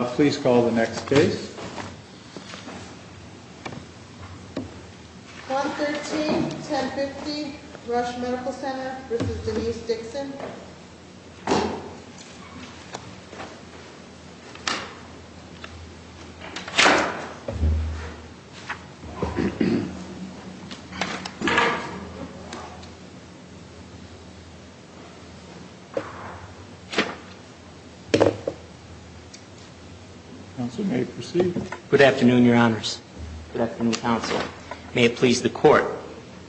Please call the next case. 113-1050 Rush Medical Center v. Denise Dixon Good afternoon, your honors. Good afternoon, counsel. May it please the court.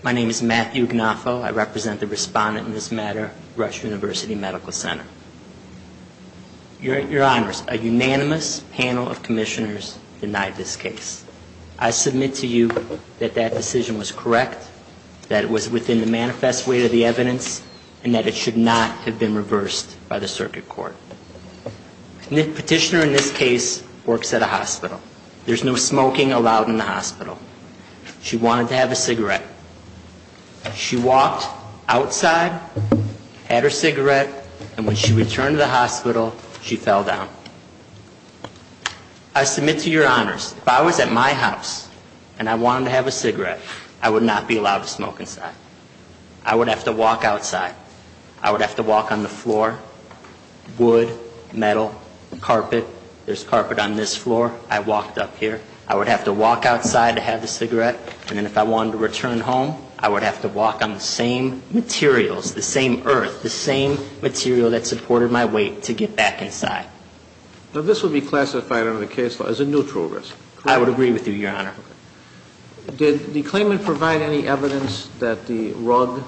My name is Matthew Gnafo. I represent the respondent in this matter, Rush University Medical Center. Your honors, a unanimous panel of commissioners denied this case. I submit to you that that decision was correct, that it was within the manifest way of the evidence, and that it should not have been reversed by the circuit court. Petitioner in this case works at a hospital. There's no smoking allowed in the hospital. She wanted to have a cigarette. She walked outside, had her cigarette, and when she returned to the hospital, she fell down. I submit to your honors, if I was at my house and I wanted to have a cigarette, I would not be allowed to smoke inside. I would have to walk outside. I would have to walk on the floor, wood, metal, carpet. There's carpet on this floor. I walked up here. I would have to walk outside to have the cigarette, and then if I wanted to return home, I would have to walk on the same materials, the same earth, the same material that supported my weight to get back inside. Now, this would be classified under the case law as a neutral risk. I would agree with you, your honor. Did the claimant provide any evidence that the rug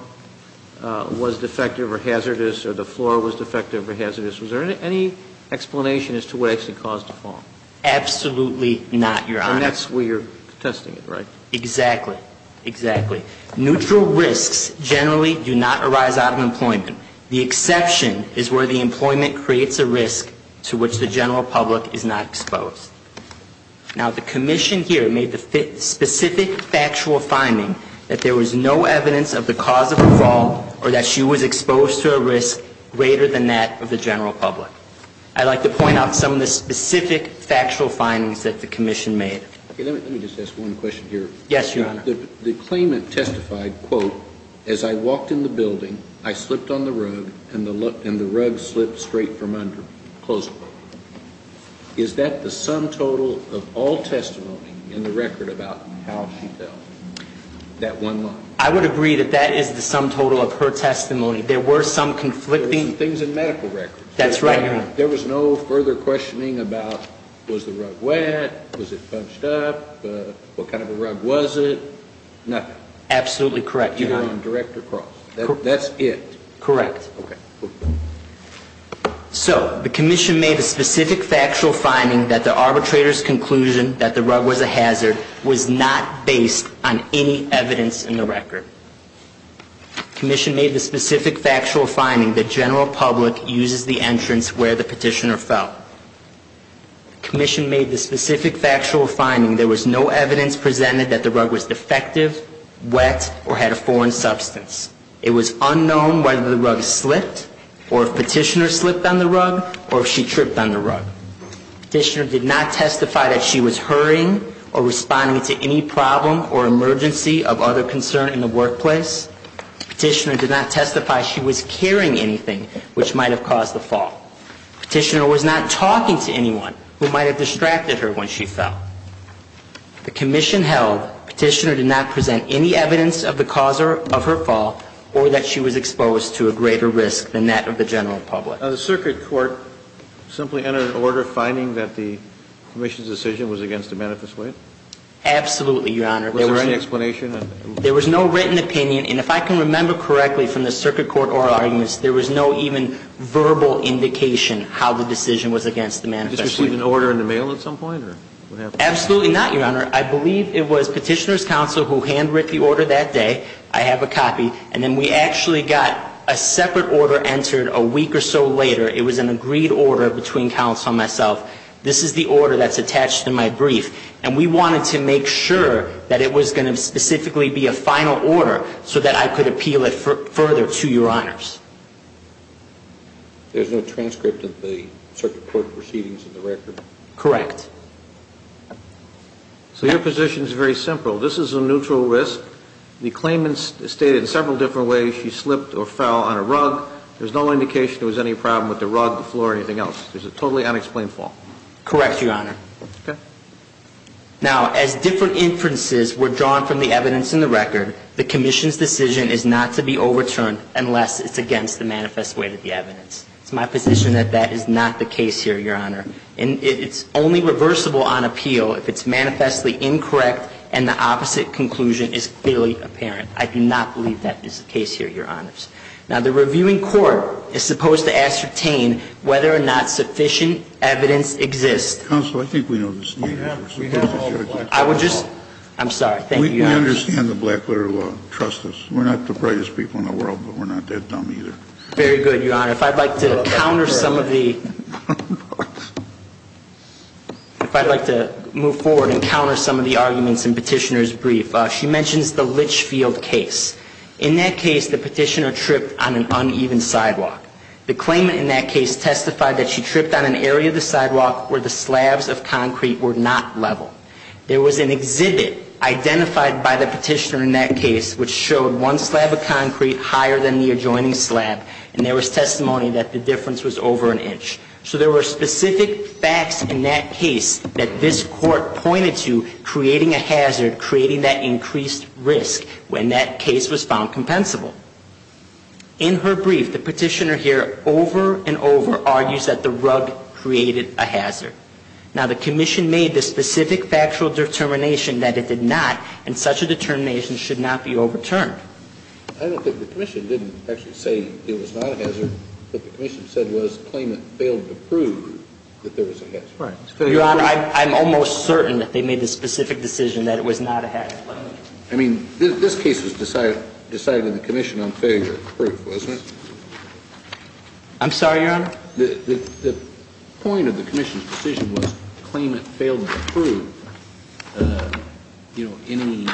was defective or hazardous or the floor was defective or hazardous? Was there any explanation as to what actually caused the fall? Absolutely not, your honor. And that's where you're testing it, right? Exactly. Exactly. Neutral risks generally do not arise out of employment. The exception is where the employment creates a risk to which the general public is not exposed. Now, the commission here made the specific factual finding that there was no evidence of the cause of the fall or that she was exposed to a risk greater than that of the general public. I'd like to point out some of the specific factual findings that the commission made. Let me just ask one question here. Yes, your honor. The claimant testified, quote, as I walked in the building, I slipped on the rug, and the rug slipped straight from under me, close quote. Is that the sum total of all testimony in the record about how she fell, that one line? I would agree that that is the sum total of her testimony. There were some conflicting... There were some things in medical records. That's right, your honor. There was no further questioning about was the rug wet, was it bunched up, what kind of a rug was it, nothing. Absolutely correct, your honor. Either on direct or cross. That's it. Correct. Okay. So the commission made a specific factual finding that the arbitrator's conclusion that the rug was a hazard was not based on any evidence in the record. Commission made the specific factual finding that general public uses the entrance where the petitioner fell. Commission made the specific factual finding there was no evidence presented that the rug was defective, wet, or had a foreign substance. It was unknown whether the rug slipped, or if petitioner slipped on the rug, or if she tripped on the rug. Petitioner did not testify that she was hurrying or responding to any problem or emergency of other concern in the workplace. Petitioner did not testify she was carrying anything which might have caused the fall. Petitioner was not talking to anyone who might have distracted her when she fell. The commission held petitioner did not present any evidence of the cause of her fall or that she was exposed to a greater risk than that of the general public. The circuit court simply entered an order finding that the commission's decision was against the manifest weight? Absolutely, Your Honor. Was there any explanation? There was no written opinion, and if I can remember correctly from the circuit court oral arguments, there was no even verbal indication how the decision was against the manifest weight. Did you receive an order in the mail at some point? Absolutely not, Your Honor. I believe it was petitioner's counsel who hand-writ the order that day. I have a copy, and then we actually got a separate order entered a week or so later. It was an agreed order between counsel and myself. This is the order that's attached to my brief, and we wanted to make sure that it was going to specifically be a final order so that I could appeal it further to Your Honors. There's no transcript of the circuit court proceedings in the record? Correct. So your position is very simple. This is a neutral risk. The claimant stated in several different ways she slipped or fell on a rug. There's no indication there was any problem with the rug, the floor, or anything else. It was a totally unexplained fall. Correct, Your Honor. Okay. Now, as different inferences were drawn from the evidence in the record, the commission's decision is not to be overturned unless it's against the manifest weight of the evidence. It's my position that that is not the case here, Your Honor. And it's only reversible on appeal if it's manifestly incorrect and the opposite conclusion is clearly apparent. I do not believe that is the case here, Your Honors. Now, the reviewing court is supposed to ascertain whether or not sufficient evidence exists. Counsel, I think we know the standard. We have. I would just – I'm sorry. Thank you, Your Honors. We understand the black-letter law. Trust us. We're not the brightest people in the world, but we're not that dumb either. Very good, Your Honor. If I'd like to counter some of the – if I'd like to move forward and counter some of the arguments in Petitioner's brief. She mentions the Litchfield case. In that case, the Petitioner tripped on an uneven sidewalk. The claimant in that case testified that she tripped on an area of the sidewalk where the slabs of concrete were not level. There was an exhibit identified by the Petitioner in that case which showed one slab of concrete higher than the adjoining slab, and there was testimony that the difference was over an inch. So there were specific facts in that case that this Court pointed to creating a hazard, creating that increased risk, when that case was found compensable. In her brief, the Petitioner here over and over argues that the rug created a hazard. Now, the Commission made the specific factual determination that it did not, and such a determination should not be overturned. I don't think the Commission didn't actually say it was not a hazard. What the Commission said was the claimant failed to prove that there was a hazard. Right. Your Honor, I'm almost certain that they made the specific decision that it was not a hazard. I mean, this case was decided in the Commission on failure of proof, wasn't it? I'm sorry, Your Honor? The point of the Commission's decision was the claimant failed to prove, you know, any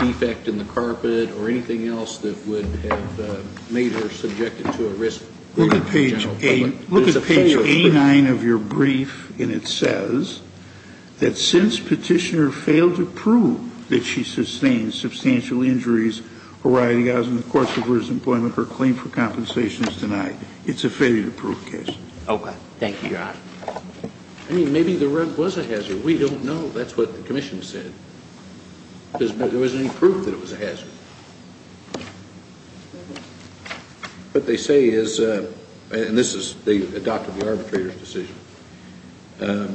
defect in the carpet or anything else that would have made her subjected to a risk to the general public. Look at page A9 of your brief, and it says that since Petitioner failed to prove that she sustained substantial injuries, or rioting as in the course of her employment, her claim for compensation is denied. It's a failure to prove case. Okay. Thank you, Your Honor. I mean, maybe the rug was a hazard. We don't know. That's what the Commission said. There wasn't any proof that it was a hazard. What they say is, and this is, they adopted the arbitrator's decision, there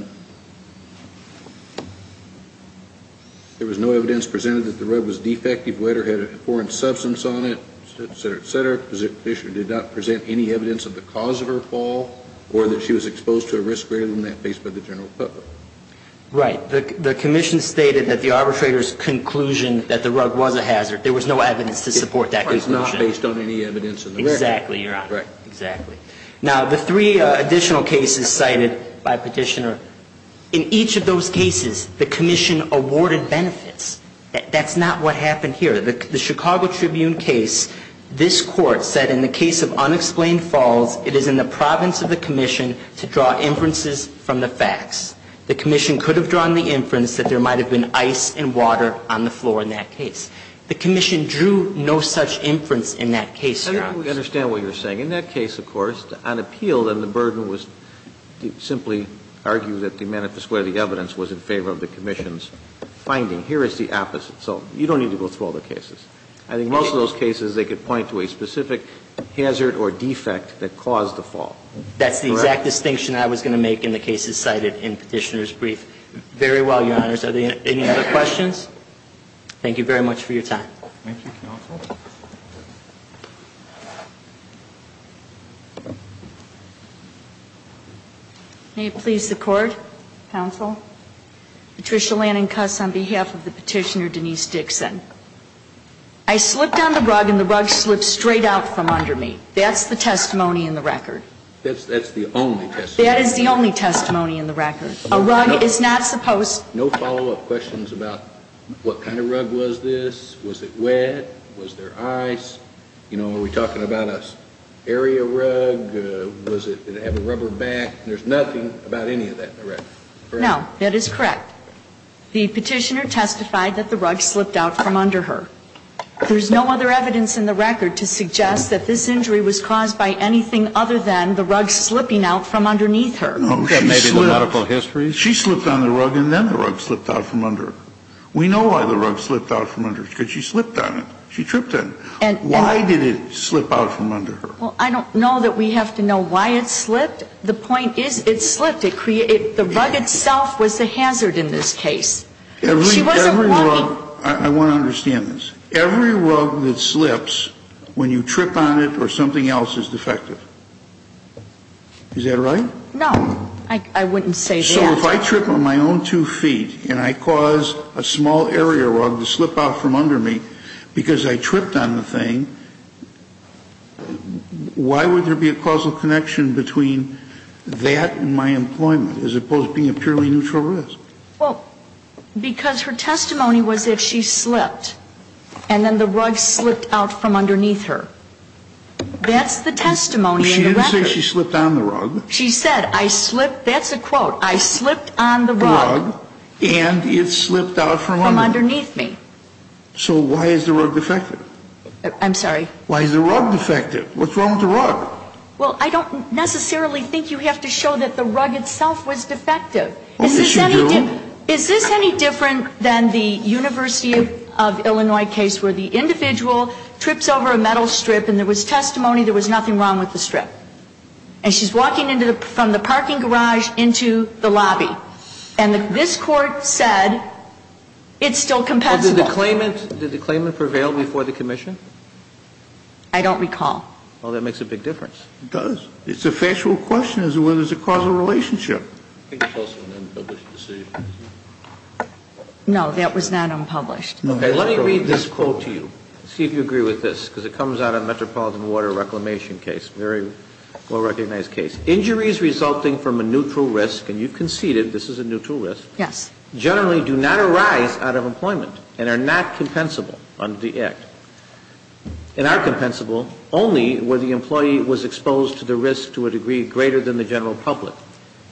was no evidence presented that the rug was defective, wet, or had a foreign substance on it, et cetera, et cetera. Petitioner did not present any evidence of the cause of her fall, or that she was exposed to a risk greater than that based by the general public. Right. The Commission stated that the arbitrator's conclusion that the rug was a hazard. There was no evidence to support that conclusion. It was not based on any evidence in the record. Exactly, Your Honor. Right. Exactly. Now, the three additional cases cited by Petitioner, in each of those cases, the Commission awarded benefits. That's not what happened here. The Chicago Tribune case, this Court said in the case of unexplained falls, it is in the province of the Commission to draw inferences from the facts. The Commission could have drawn the inference that there might have been ice and water on the floor in that case. The Commission drew no such inference in that case, Your Honor. I don't understand what you're saying. In that case, of course, on appeal, then the burden was to simply argue that the manifest where the evidence was in favor of the Commission's finding. Here is the opposite. So you don't need to go through all the cases. I think most of those cases, they could point to a specific hazard or defect that caused the fall. Correct. That's the exact distinction I was going to make in the cases cited in Petitioner's brief. Very well, Your Honors. Are there any other questions? Thank you very much for your time. Thank you, counsel. May it please the Court, counsel. Patricia Lannan Cuss on behalf of the Petitioner, Denise Dixon. I slipped on the rug and the rug slipped straight out from under me. That's the testimony in the record. That's the only testimony. That is the only testimony in the record. A rug is not supposed to. No follow-up questions about what kind of rug was this? Was it wet? Was there water in it? Was there ice? You know, are we talking about an area rug? Did it have a rubber back? There's nothing about any of that in the record. No, that is correct. The Petitioner testified that the rug slipped out from under her. There's no other evidence in the record to suggest that this injury was caused by anything other than the rug slipping out from underneath her. That may be the medical history. She slipped on the rug and then the rug slipped out from under her. We know why the rug slipped out from under her because she slipped on it. She tripped on it. Why did it slip out from under her? Well, I don't know that we have to know why it slipped. The point is it slipped. The rug itself was the hazard in this case. She wasn't walking. I want to understand this. Every rug that slips when you trip on it or something else is defective. Is that right? No. I wouldn't say that. So if I trip on my own two feet and I cause a small area rug to slip out from under me because I tripped on the thing, why would there be a causal connection between that and my employment as opposed to being a purely neutral risk? Well, because her testimony was that she slipped and then the rug slipped out from underneath her. That's the testimony in the record. She didn't say she slipped on the rug. She said I slipped. That's a quote. I slipped on the rug. And it slipped out from underneath me. So why is the rug defective? I'm sorry? Why is the rug defective? What's wrong with the rug? Well, I don't necessarily think you have to show that the rug itself was defective. Well, yes, you do. Is this any different than the University of Illinois case where the individual trips over a metal strip and there was testimony there was nothing wrong with the strip? And she's walking from the parking garage into the lobby. And this Court said it's still compensable. Well, did the claimant prevail before the commission? I don't recall. Well, that makes a big difference. It does. It's a factual question as to whether there's a causal relationship. I think it's also an unpublished decision. No, that was not unpublished. Okay. Let me read this quote to you, see if you agree with this, because it comes out of a well-recognized case. Injuries resulting from a neutral risk, and you conceded this is a neutral risk. Yes. Generally do not arise out of employment and are not compensable under the Act. And are compensable only where the employee was exposed to the risk to a degree greater than the general public.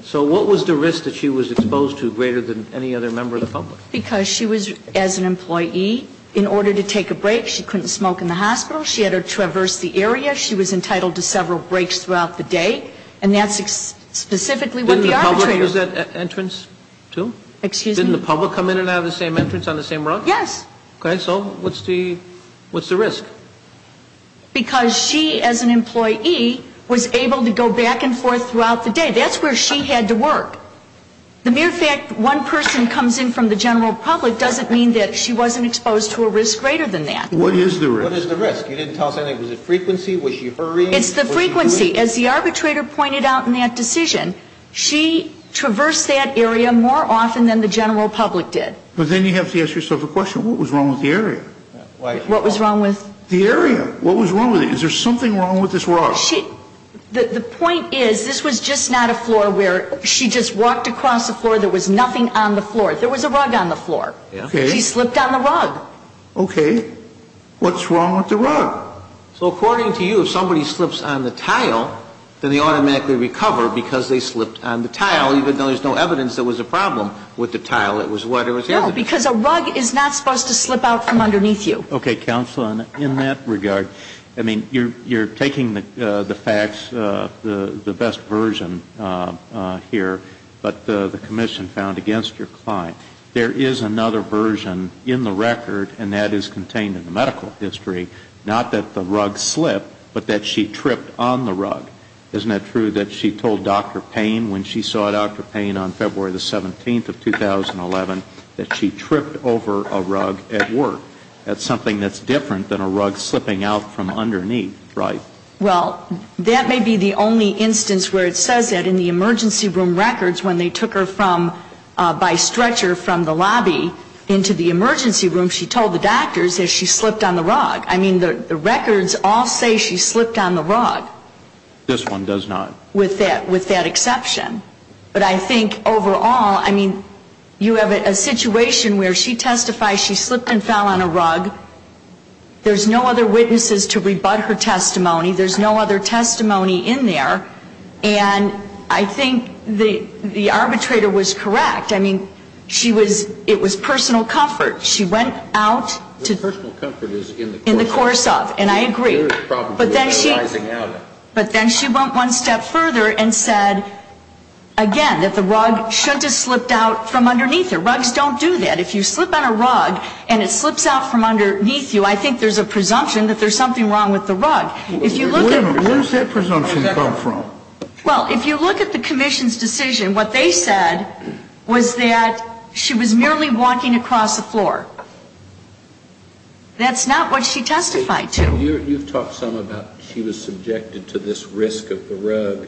So what was the risk that she was exposed to greater than any other member of the public? Because she was, as an employee, in order to take a break, she couldn't smoke in the hospital. She had to traverse the area. She was entitled to several breaks throughout the day. And that's specifically what the arbitrator. Didn't the public use that entrance, too? Excuse me? Didn't the public come in and have the same entrance on the same route? Yes. Okay. So what's the risk? Because she, as an employee, was able to go back and forth throughout the day. That's where she had to work. The mere fact one person comes in from the general public doesn't mean that she wasn't exposed to a risk greater than that. What is the risk? What is the risk? You didn't tell us anything. Was it frequency? Was she hurrying? It's the frequency. As the arbitrator pointed out in that decision, she traversed that area more often than the general public did. But then you have to ask yourself a question. What was wrong with the area? What was wrong with? The area. What was wrong with it? Is there something wrong with this rug? The point is this was just not a floor where she just walked across the floor. There was nothing on the floor. There was a rug on the floor. She slipped on the rug. Okay. What's wrong with the rug? So according to you, if somebody slips on the tile, then they automatically recover because they slipped on the tile, even though there's no evidence there was a problem with the tile. It was wet. No, because a rug is not supposed to slip out from underneath you. Okay. Counsel, in that regard, I mean, you're taking the facts, the best version here, but the commission found against your client. There is another version in the record, and that is contained in the medical history, not that the rug slipped, but that she tripped on the rug. Isn't it true that she told Dr. Payne when she saw Dr. Payne on February the 17th of 2011 that she tripped over a rug at work? That's something that's different than a rug slipping out from underneath. Right. Well, that may be the only instance where it says that in the emergency room records when they took her by stretcher from the lobby into the emergency room, she told the doctors that she slipped on the rug. I mean, the records all say she slipped on the rug. This one does not. With that exception. But I think overall, I mean, you have a situation where she testifies she slipped and fell on a rug. There's no other witnesses to rebut her testimony. There's no other testimony in there. And I think the arbitrator was correct. I mean, it was personal comfort. She went out to the course of, and I agree. But then she went one step further and said, again, that the rug shouldn't have slipped out from underneath her. Rugs don't do that. If you slip on a rug and it slips out from underneath you, I think there's a presumption that there's something wrong with the rug. Where does that presumption come from? Well, if you look at the commission's decision, what they said was that she was merely walking across the floor. That's not what she testified to. You've talked some about she was subjected to this risk of the rug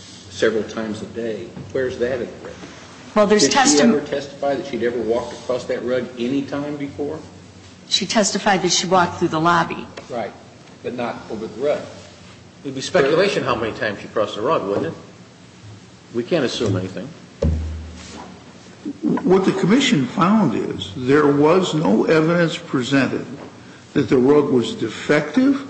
several times a day. Where's that at? Did she ever testify that she'd ever walked across that rug any time before? She testified that she walked through the lobby. Right. But not over the rug. It would be speculation how many times she crossed the rug, wouldn't it? We can't assume anything. What the commission found is there was no evidence presented that the rug was defective,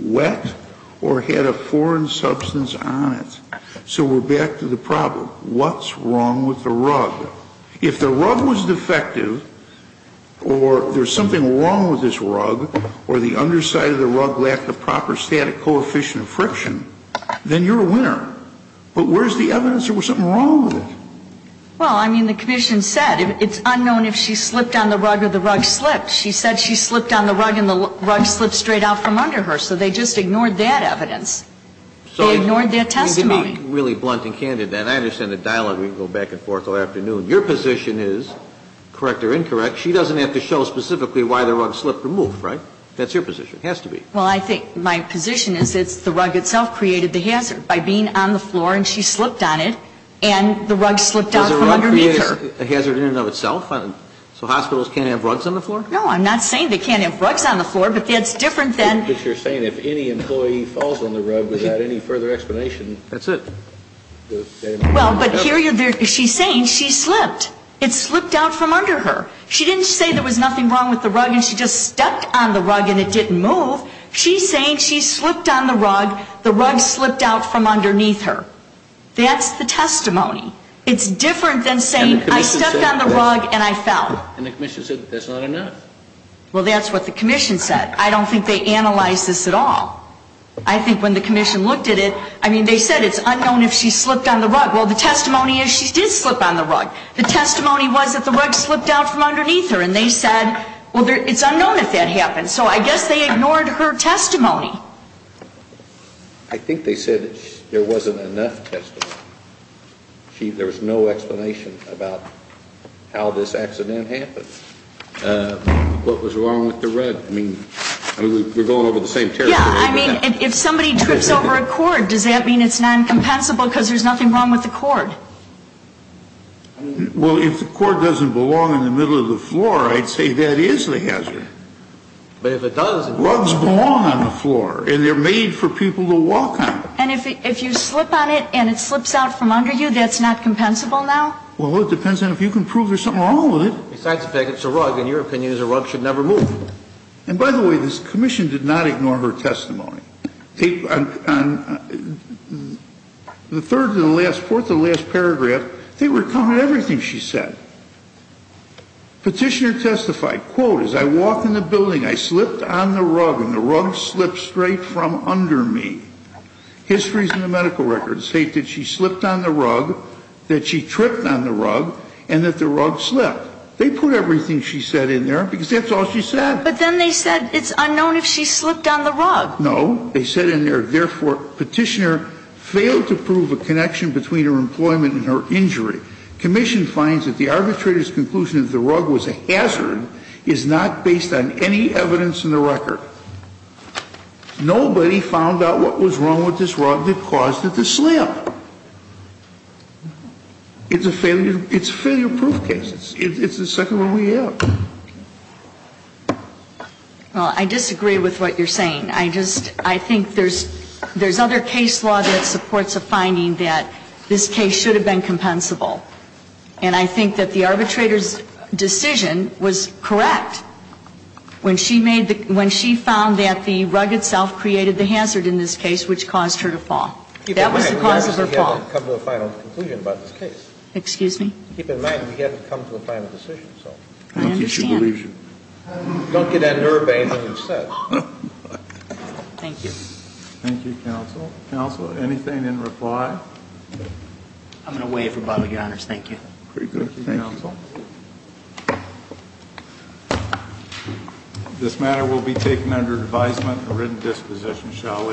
wet, or had a foreign substance on it. So we're back to the problem. What's wrong with the rug? If the rug was defective, or there's something wrong with this rug, or the underside of the rug left a proper static coefficient of friction, then you're a winner. But where's the evidence there was something wrong with it? Well, I mean, the commission said it's unknown if she slipped on the rug or the rug slipped. She said she slipped on the rug, and the rug slipped straight out from under her. So they just ignored that evidence. They ignored their testimony. You're being really blunt and candid. And I understand the dialogue we can go back and forth all afternoon. Your position is, correct or incorrect, she doesn't have to show specifically why the rug slipped or moved, right? That's your position. It has to be. Well, I think my position is it's the rug itself created the hazard. By being on the floor, and she slipped on it, and the rug slipped out from underneath her. Does the rug create a hazard in and of itself? So hospitals can't have rugs on the floor? No, I'm not saying they can't have rugs on the floor. But that's different than But you're saying if any employee falls on the rug without any further explanation That's it. Well, but here she's saying she slipped. It slipped out from under her. She didn't say there was nothing wrong with the rug and she just stepped on the rug and it didn't move. She's saying she slipped on the rug, the rug slipped out from underneath her. That's the testimony. It's different than saying I stepped on the rug and I fell. And the commission said that's not enough. Well, that's what the commission said. I don't think they analyzed this at all. I think when the commission looked at it, I mean, they said it's unknown if she slipped on the rug. Well, the testimony is she did slip on the rug. The testimony was that the rug slipped out from underneath her. And they said, well, it's unknown if that happened. So I guess they ignored her testimony. I think they said there wasn't enough testimony. There was no explanation about how this accident happened. What was wrong with the rug? I mean, we're going over the same territory. Yeah, I mean, if somebody trips over a cord, does that mean it's non-compensable because there's nothing wrong with the cord? Well, if the cord doesn't belong in the middle of the floor, I'd say that is the hazard. But if it does, it's not. Rugs belong on the floor. And they're made for people to walk on. And if you slip on it and it slips out from under you, that's not compensable now? Well, it depends on if you can prove there's something wrong with it. Besides the fact it's a rug. In your opinion, a rug should never move. And by the way, this commission did not ignore her testimony. On the third to the last paragraph, they recounted everything she said. Petitioner testified, quote, as I walked in the building, I slipped on the rug and the rug slipped straight from under me. Histories in the medical records state that she slipped on the rug, that she tripped on the rug, and that the rug slipped. They put everything she said in there because that's all she said. No, they said in there, therefore, Petitioner failed to prove a connection between her employment and her injury. Commission finds that the arbitrator's conclusion that the rug was a hazard is not based on any evidence in the record. Nobody found out what was wrong with this rug that caused it to slip. It's a failure proof case. It's the second one we have. Well, I disagree with what you're saying. I just, I think there's, there's other case law that supports a finding that this case should have been compensable. And I think that the arbitrator's decision was correct when she made the, when she found that the rug itself created the hazard in this case, which caused her to fall. That was the cause of her fall. Excuse me? I understand. Don't get that nerve ache like you said. Thank you. Thank you, Counsel. Counsel, anything in reply? I'm going to waive for bodily honors. Thank you. Thank you, Counsel. This matter will be taken under advisement and written disposition, shall we?